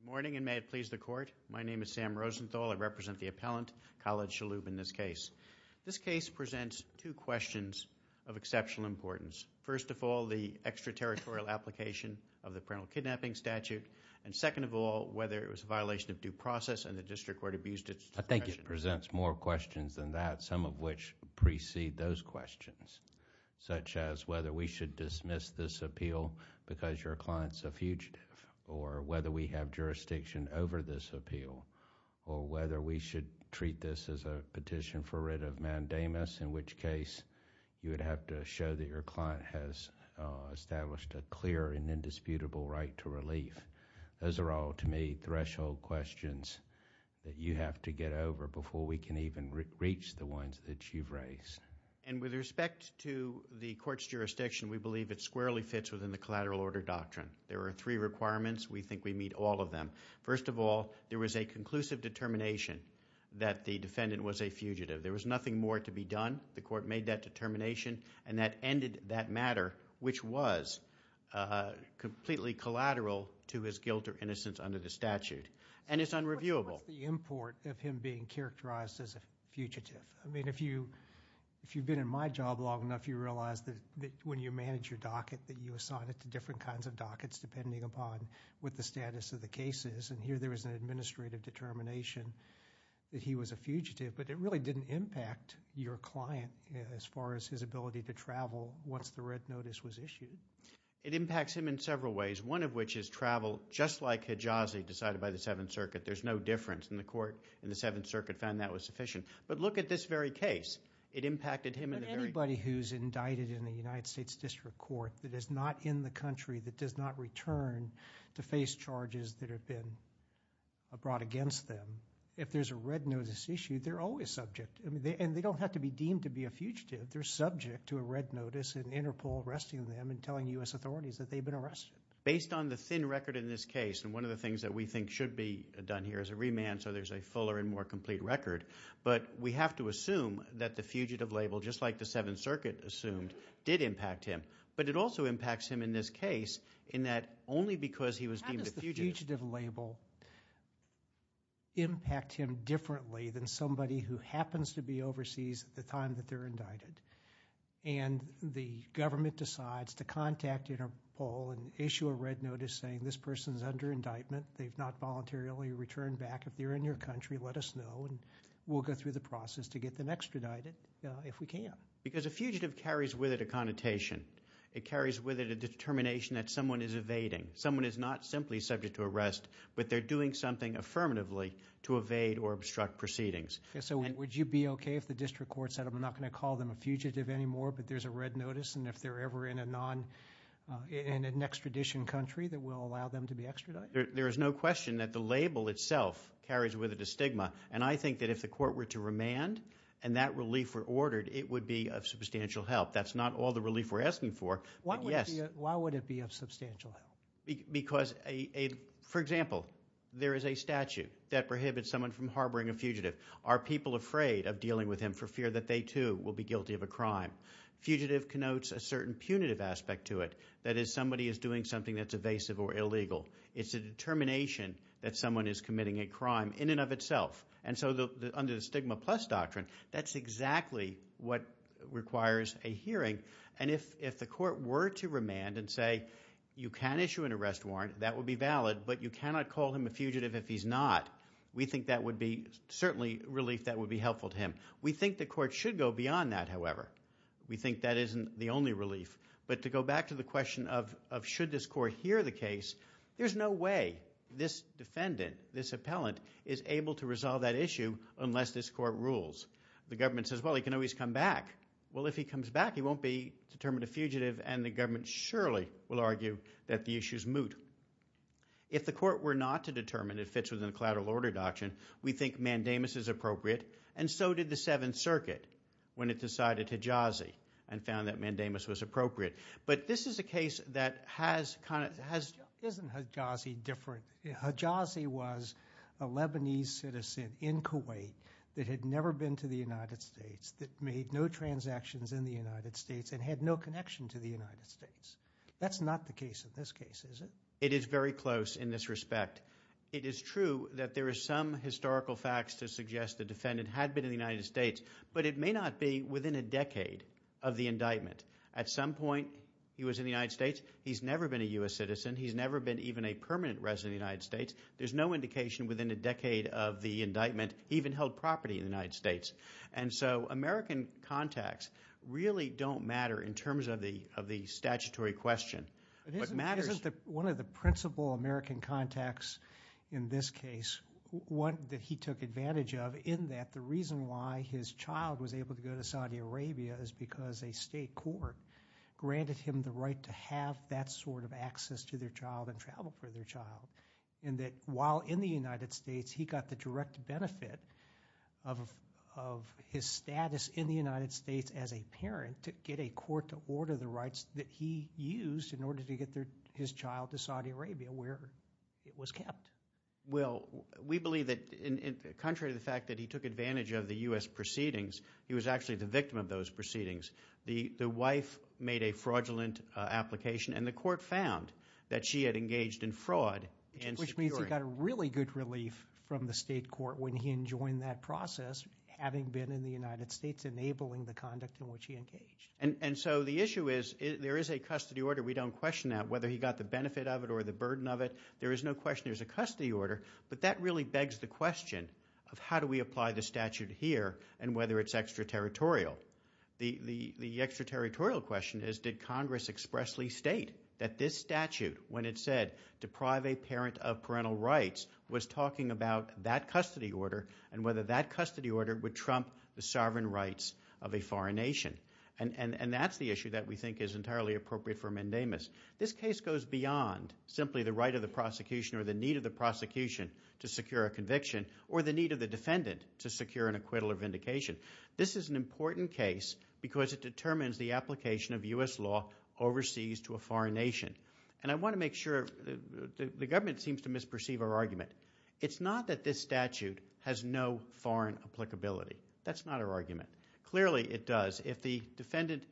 Good morning, and may it please the Court. My name is Sam Rosenthal. I represent the appellant, Khalid Shalhoub, in this case. This case presents two questions of exceptional importance. First of all, the extraterritorial application of the parental kidnapping statute, and second of all, whether it was a violation of due process and the District Court abused its discretion. I think it presents more questions than that, some of which precede those questions, such as whether we should dismiss this appeal because your client's a fugitive, or whether we have jurisdiction over this appeal, or whether we should treat this as a petition for writ of mandamus, in which case you would have to show that your client has established a clear and indisputable right to relief. Those are all, to me, threshold questions that you have to get over before we can even reach the ones that you've raised. And with respect to the Court's jurisdiction, we believe it squarely fits within the collateral order doctrine. There are three requirements. We think we meet all of them. First of all, there was a conclusive determination that the defendant was a fugitive. There was nothing more to be done. The Court made that determination, and that ended that matter, which was completely collateral to his guilt or innocence under the statute, and it's unreviewable. That's the import of him being characterized as a fugitive. I mean, if you've been in my job long enough, you realize that when you manage your docket, that you assign it to different kinds of dockets, depending upon what the status of the case is, and here there was an administrative determination that he was a fugitive, but it really didn't impact your client as far as his ability to travel once the red notice was issued. It impacts him in several ways, one of which is travel, just like Hijazi, decided by the Court in the Seventh Circuit found that was sufficient, but look at this very case. It impacted him in the very case. But anybody who's indicted in the United States District Court that is not in the country, that does not return to face charges that have been brought against them, if there's a red notice issued, they're always subject, and they don't have to be deemed to be a fugitive. They're subject to a red notice and interpol arresting them and telling U.S. authorities that they've been arrested. Based on the thin record in this case, and one of the things that we think should be done here is a remand so there's a fuller and more complete record, but we have to assume that the fugitive label, just like the Seventh Circuit assumed, did impact him. But it also impacts him in this case in that only because he was deemed a fugitive. How does the fugitive label impact him differently than somebody who happens to be overseas at the time that they're indicted, and the government decides to contact interpol and issue a red indictment. They've not voluntarily returned back. If they're in your country, let us know, and we'll go through the process to get them extradited if we can. Because a fugitive carries with it a connotation. It carries with it a determination that someone is evading. Someone is not simply subject to arrest, but they're doing something affirmatively to evade or obstruct proceedings. So would you be okay if the District Court said, I'm not going to call them a fugitive anymore, but there's a red notice, and if they're ever in an extradition country, that will allow them to be extradited? There is no question that the label itself carries with it a stigma. And I think that if the court were to remand, and that relief were ordered, it would be of substantial help. That's not all the relief we're asking for, but yes. Why would it be of substantial help? Because, for example, there is a statute that prohibits someone from harboring a fugitive. Are people afraid of dealing with him for fear that they, too, will be guilty of a crime? Fugitive connotes a certain punitive aspect to it. That is, somebody is doing something that's evasive or illegal. It's a determination that someone is committing a crime in and of itself. And so under the stigma plus doctrine, that's exactly what requires a hearing. And if the court were to remand and say, you can issue an arrest warrant, that would be valid, but you cannot call him a fugitive if he's not, we think that would be certainly relief that would be helpful to him. We think the court should go beyond that, however. We think that isn't the only relief. But to go back to the question of should this court hear the case, there's no way this defendant, this appellant, is able to resolve that issue unless this court rules. The government says, well, he can always come back. Well, if he comes back, he won't be determined a fugitive, and the government surely will argue that the issue is moot. If the court were not to determine if it's within a collateral order doctrine, we think mandamus is appropriate, and so did the Seventh Circuit when it decided hejazi and found that But this is a case that has kind of, hasn't hejazi different? Hejazi was a Lebanese citizen in Kuwait that had never been to the United States, that made no transactions in the United States, and had no connection to the United States. That's not the case in this case, is it? It is very close in this respect. It is true that there is some historical facts to suggest the defendant had been in the United States, but it may not be within a decade of the indictment. At some point, he was in the United States. He's never been a U.S. citizen. He's never been even a permanent resident of the United States. There's no indication within a decade of the indictment he even held property in the United States. And so, American contacts really don't matter in terms of the statutory question. But it matters… Isn't one of the principal American contacts in this case one that he took advantage of in that the reason why his child was able to go to Saudi Arabia is because a state court granted him the right to have that sort of access to their child and travel for their child. And that while in the United States, he got the direct benefit of his status in the United States as a parent to get a court to order the rights that he used in order to get his child to Saudi Arabia where it was kept. Well, we believe that contrary to the fact that he took advantage of the U.S. proceedings, he was actually the victim of those proceedings. The wife made a fraudulent application and the court found that she had engaged in fraud. Which means he got a really good relief from the state court when he enjoined that process having been in the United States enabling the conduct in which he engaged. And so, the issue is there is a custody order. We don't question that whether he got the benefit of it or the burden of it. There is no question. There is a custody order. But that really begs the question of how do we apply the statute here and whether it's extraterritorial. The extraterritorial question is did Congress expressly state that this statute when it said deprive a parent of parental rights was talking about that custody order and whether that custody order would trump the sovereign rights of a foreign nation. And that's the issue that we think is entirely appropriate for Mendemus. This case goes beyond simply the right of the prosecution or the need of the prosecution to secure a conviction or the need of the defendant to secure an acquittal or vindication. This is an important case because it determines the application of U.S. law overseas to a foreign nation. And I want to make sure the government seems to misperceive our argument. It's not that this statute has no foreign applicability. That's not our argument. Clearly it does. If the defendant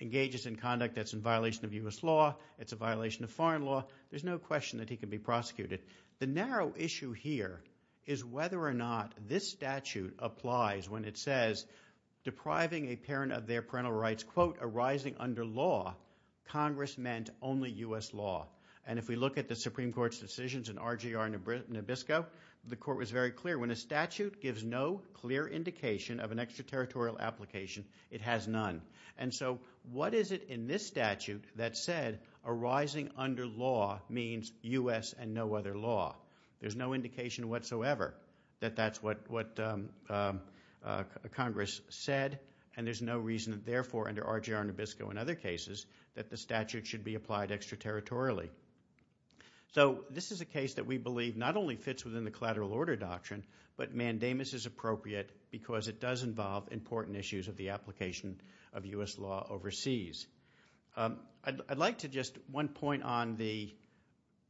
engages in conduct that's in violation of U.S. law, it's a violation of foreign law, there's no question that he can be prosecuted. The narrow issue here is whether or not this statute applies when it says depriving a parent of their parental rights, quote, arising under law, Congress meant only U.S. law. And if we look at the Supreme Court's decisions in RGR Nabisco, the court was very clear. When a statute gives no clear indication of an extraterritorial application, it has none. And so what is it in this statute that said arising under law means U.S. and no other law? There's no indication whatsoever that that's what Congress said and there's no reason that therefore under RGR Nabisco and other cases that the statute should be applied extraterritorially. So this is a case that we believe not only fits within the collateral order doctrine, but mandamus is appropriate because it does involve important issues of the application of U.S. law overseas. I'd like to just one point on the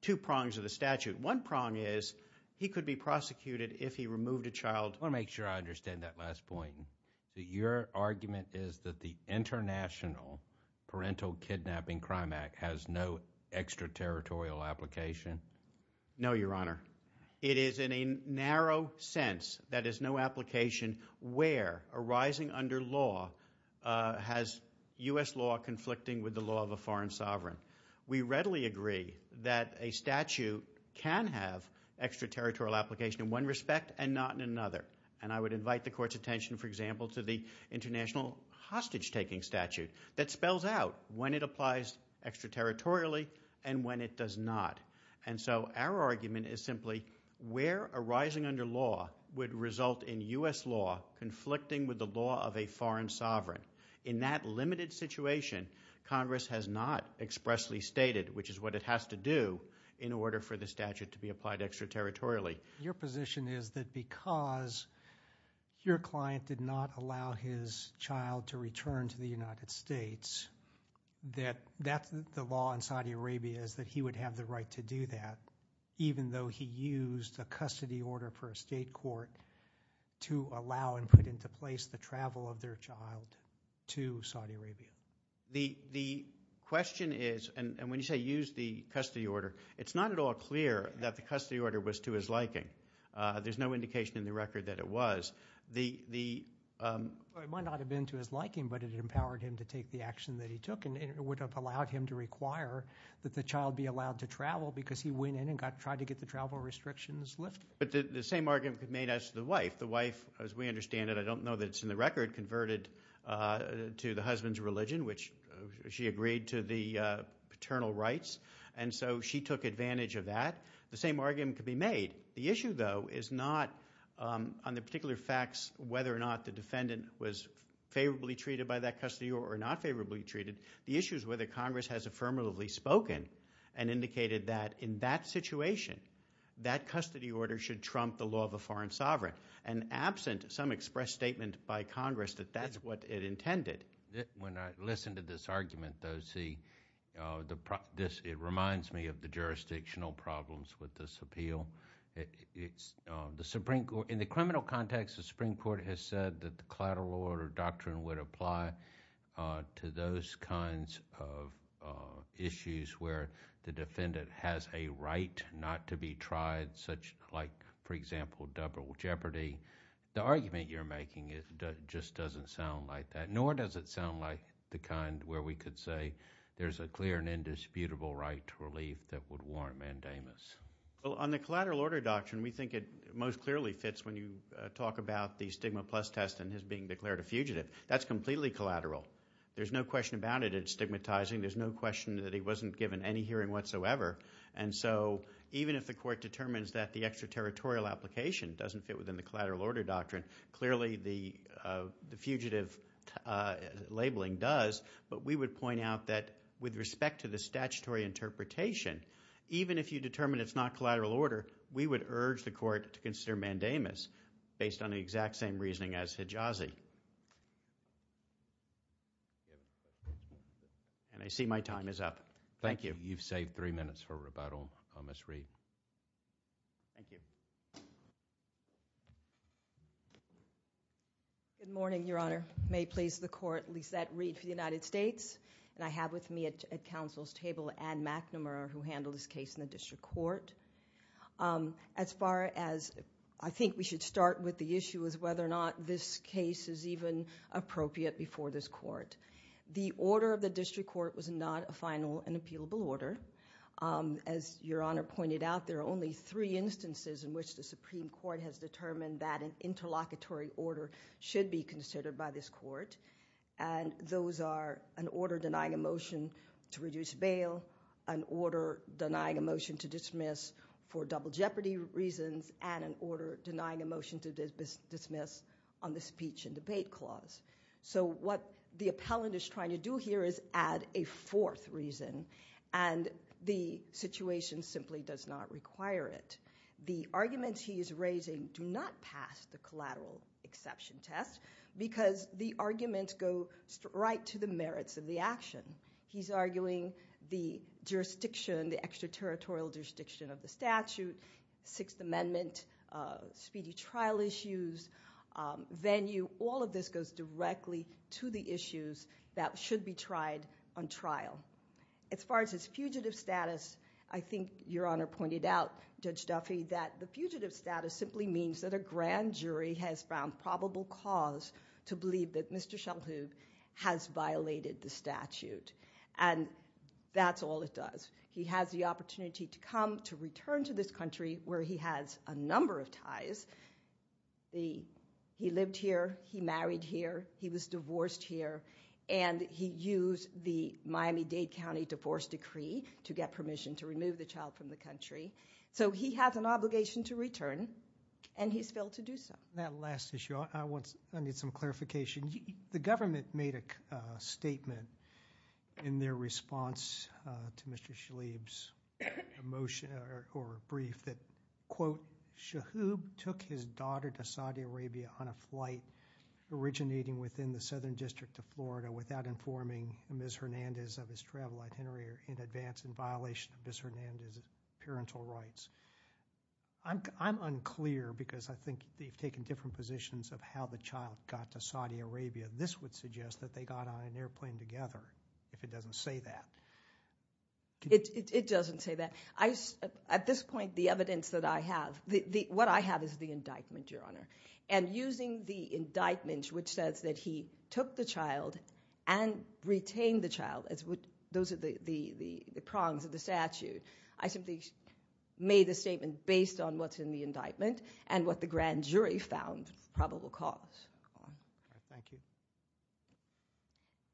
two prongs of the statute. One prong is he could be prosecuted if he removed a child. I want to make sure I understand that last point. Your argument is that the International Parental Kidnapping Crime Act has no extraterritorial application? No, Your Honor. It is in a narrow sense that is no application where arising under law has U.S. law conflicting with the law of a foreign sovereign. We readily agree that a statute can have extraterritorial application in one respect and not in another. And I would invite the court's attention, for example, to the international hostage taking statute that spells out when it applies extraterritorially and when it does not. And so our argument is simply where arising under law would result in U.S. law conflicting with the law of a foreign sovereign. In that limited situation, Congress has not expressly stated, which is what it has to do in order for the statute to be applied extraterritorially. Your position is that because your client did not allow his child to return to the United States, that the law in Saudi Arabia is that he would have the right to do that even though he used a custody order for a state court to allow and put into place the travel of their child to Saudi Arabia? The question is, and when you say used the custody order, it's not at all clear that the custody order was to his liking. There's no indication in the record that it was. It might not have been to his liking, but it empowered him to take the action that he took and it would have allowed him to require that the child be allowed to travel because he went in and tried to get the travel restrictions lifted. But the same argument could be made as to the wife. The wife, as we understand it, I don't know that it's in the record, converted to the husband's religion, which she agreed to the paternal rights. And so she took advantage of that. The same argument could be made. The issue, though, is not on the particular facts whether or not the defendant was favorably treated by that custody or not favorably treated. The issue is whether Congress has affirmatively spoken and indicated that in that situation that custody order should trump the law of a foreign sovereign and absent some express statement by Congress that that's what it intended. When I listen to this argument, though, see, it reminds me of the jurisdictional problems with this appeal. In the criminal context, the Supreme Court has said that the collateral order doctrine would apply to those kinds of issues where the defendant has a right not to be tried such like, for example, double jeopardy. The argument you're making just doesn't sound like that. Nor does it sound like the kind where we could say there's a clear and indisputable right to relief that would warrant mandamus. Well, on the collateral order doctrine, we think it most clearly fits when you talk about the stigma plus test and his being declared a fugitive. That's completely collateral. There's no question about it. It's stigmatizing. There's no question that he wasn't given any hearing whatsoever. And so even if the court determines that the extraterritorial application doesn't fit within the collateral order doctrine, clearly the fugitive labeling does. But we would point out that with respect to the statutory interpretation, even if you determine it's not collateral order, we would urge the court to consider mandamus based on the exact same reasoning as Hijazi. And I see my time is up. Thank you. You've saved three minutes for rebuttal, Ms. Reid. Thank you. Good morning, Your Honor. May it please the court, Lisette Reid for the United States. And I have with me at counsel's table, Ann McNamara, who handled this case in the district court. As far as I think we should start with the issue is whether or not this case is even appropriate before this court. The order of the district court was not a final and appealable order. As Your Honor pointed out, there are only three instances in which the Supreme Court has determined that an interlocutory order should be considered by this court. And those are an order denying a motion to reduce bail, an order denying a motion to dismiss for double jeopardy reasons, and an order denying a motion to dismiss on the speech and debate clause. So what the appellant is trying to do here is add a fourth reason, and the situation simply does not require it. The arguments he is raising do not pass the collateral exception test because the arguments go right to the merits of the action. He's arguing the jurisdiction, the extraterritorial jurisdiction of the statute, Sixth Amendment, speedy trial issues, venue, all of this goes directly to the issues that should be tried on trial. As far as his fugitive status, I think Your Honor pointed out, Judge Duffy, that the fugitive status simply means that a grand jury has found probable cause to believe that Mr. Schellhoog has violated the statute. And that's all it does. He has the opportunity to come to return to this country where he has a number of ties. He lived here. He married here. He was divorced here. And he used the Miami-Dade County Divorce Decree to get permission to remove the child from the country. So he has an obligation to return, and he's failed to do so. That last issue, I need some clarification. The government made a statement in their response to Mr. Schellhoog's motion or brief that, quote, Schellhoog took his daughter to Saudi Arabia on a flight originating within the state of Florida without informing Ms. Hernandez of his travel itinerary in advance in violation of Ms. Hernandez's parental rights. I'm unclear, because I think they've taken different positions of how the child got to Saudi Arabia. This would suggest that they got on an airplane together, if it doesn't say that. It doesn't say that. At this point, the evidence that I have, what I have is the indictment, Your Honor. And using the indictment, which says that he took the child and retained the child, those are the prongs of the statute. I simply made a statement based on what's in the indictment and what the grand jury found probable cause. All right. Thank you.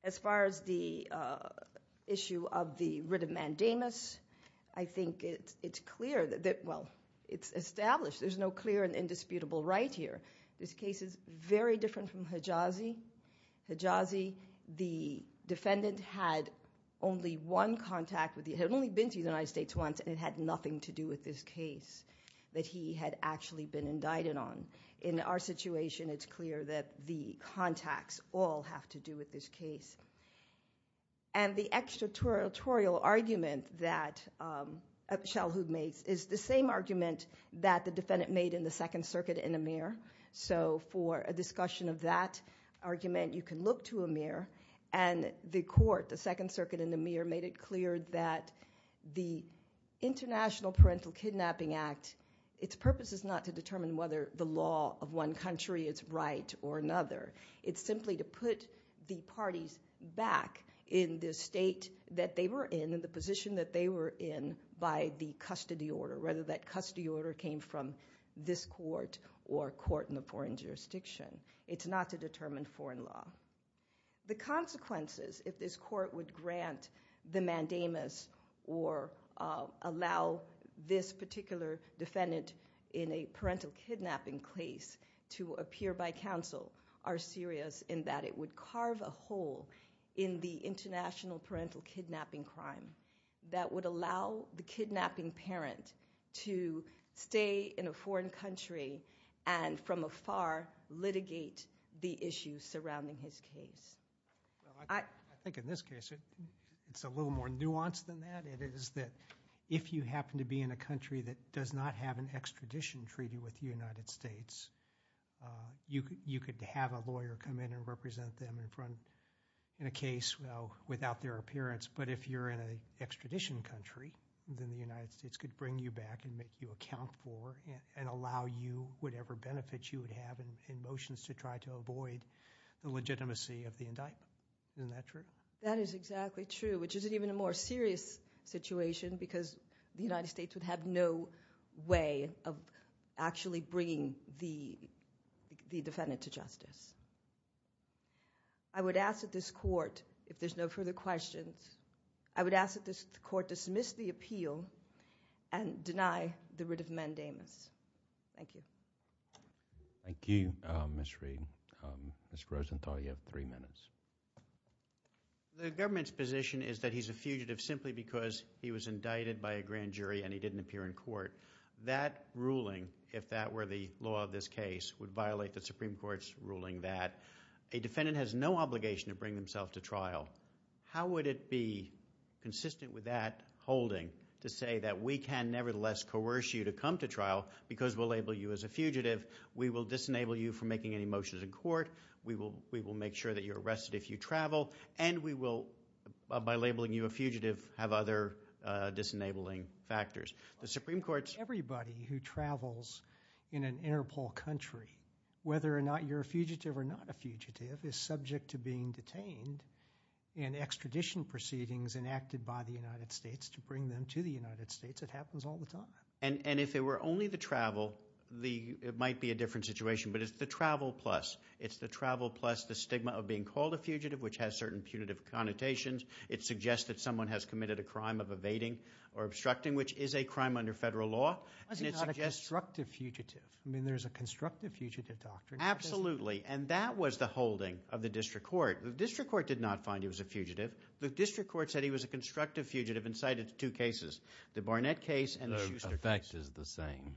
As far as the issue of the writ of mandamus, I think it's clear that, well, it's established there's no clear and indisputable right here. This case is very different from Hejazi. Hejazi, the defendant had only one contact with the, had only been to the United States once, and it had nothing to do with this case that he had actually been indicted on. In our situation, it's clear that the contacts all have to do with this case. And the extraterritorial argument that Shalhoub made is the same argument that the defendant made in the Second Circuit in Amir. So for a discussion of that argument, you can look to Amir, and the court, the Second Circuit in Amir, made it clear that the International Parental Kidnapping Act, its purpose is not to determine whether the law of one country is right or another. It's simply to put the parties back in the state that they were in and the position that they were in by the custody order, whether that custody order came from this court or court in a foreign jurisdiction. It's not to determine foreign law. The consequences, if this court would grant the mandamus or allow this particular defendant in a parental kidnapping case to appear by counsel, are serious in that it would carve a hole in the international parental kidnapping crime that would allow the kidnapping parent to stay in a foreign country and, from afar, litigate the issues surrounding his case. Well, I think in this case, it's a little more nuanced than that. It is that if you happen to be in a country that does not have an extradition treaty with the United States, you could have a lawyer come in and represent them in a case without their appearance. But if you're in an extradition country, then the United States could bring you back and make you account for and allow you whatever benefits you would have in motions to try to avoid the legitimacy of the indictment. Isn't that true? That is exactly true, which isn't even a more serious situation because the United States would have no way of actually bringing the defendant to justice. I would ask that this court, if there's no further questions, I would ask that this court dismiss the appeal and deny the writ of mandamus. Thank you. Thank you, Ms. Reed. Ms. Grosenthal, you have three minutes. The government's position is that he's a fugitive simply because he was indicted by a grand jury and he didn't appear in court. That ruling, if that were the law of this case, would violate the Supreme Court's ruling that a defendant has no obligation to bring himself to trial. How would it be consistent with that holding to say that we can nevertheless coerce you to come to trial because we'll label you as a fugitive, we will disenable you from making any motions in court, we will make sure that you're arrested if you travel, and we will, by labeling you a fugitive, have other disenabling factors. The Supreme Court's— Everybody who travels in an Interpol country, whether or not you're a fugitive or not a fugitive, is subject to being detained in extradition proceedings enacted by the United States to bring them to the United States. It happens all the time. And if it were only the travel, it might be a different situation, but it's the travel plus. It's the travel plus the stigma of being called a fugitive, which has certain punitive connotations. It suggests that someone has committed a crime of evading or obstructing, which is a crime under federal law. Why is he not a constructive fugitive? I mean, there's a constructive fugitive doctrine. Absolutely. And that was the holding of the district court. The district court did not find he was a fugitive. The district court said he was a constructive fugitive and cited two cases, the Barnett case and the Schuster case. The effect is the same.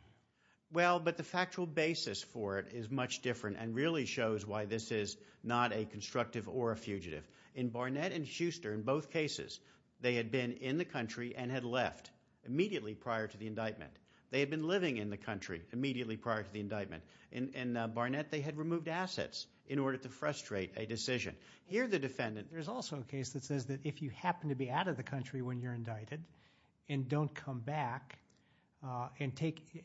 Well, but the factual basis for it is much different and really shows why this is not a constructive or a fugitive. In Barnett and Schuster, in both cases, they had been in the country and had left immediately prior to the indictment. They had been living in the country immediately prior to the indictment. In Barnett, they had removed assets in order to frustrate a decision. Here, the defendant... There's also a case that says that if you happen to be out of the country when you're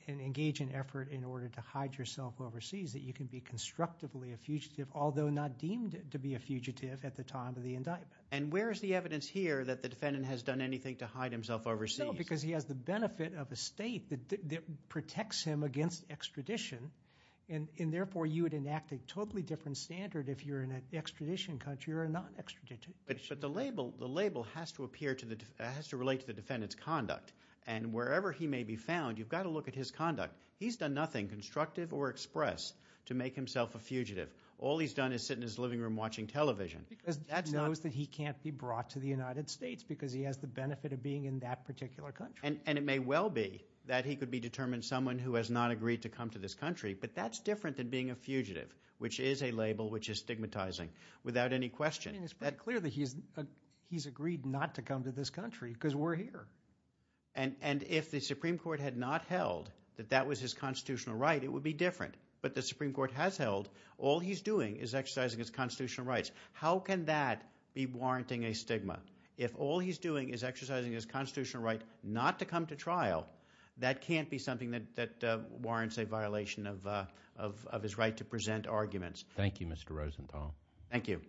engage in effort in order to hide yourself overseas, that you can be constructively a fugitive, although not deemed to be a fugitive at the time of the indictment. And where is the evidence here that the defendant has done anything to hide himself overseas? No, because he has the benefit of a state that protects him against extradition. And therefore, you would enact a totally different standard if you're in an extradition country or a non-extradition country. But the label has to relate to the defendant's conduct. And wherever he may be found, you've got to look at his conduct. He's done nothing constructive or express to make himself a fugitive. All he's done is sit in his living room watching television. Because he knows that he can't be brought to the United States because he has the benefit of being in that particular country. And it may well be that he could be determined someone who has not agreed to come to this country, but that's different than being a fugitive, which is a label which is stigmatizing without any question. I mean, it's pretty clear that he's agreed not to come to this country because we're here. And if the Supreme Court had not held that that was his constitutional right, it would be different. But the Supreme Court has held all he's doing is exercising his constitutional rights. How can that be warranting a stigma? If all he's doing is exercising his constitutional right not to come to trial, that can't be something that warrants a violation of his right to present arguments. Thank you, Mr. Rosenthal. Thank you.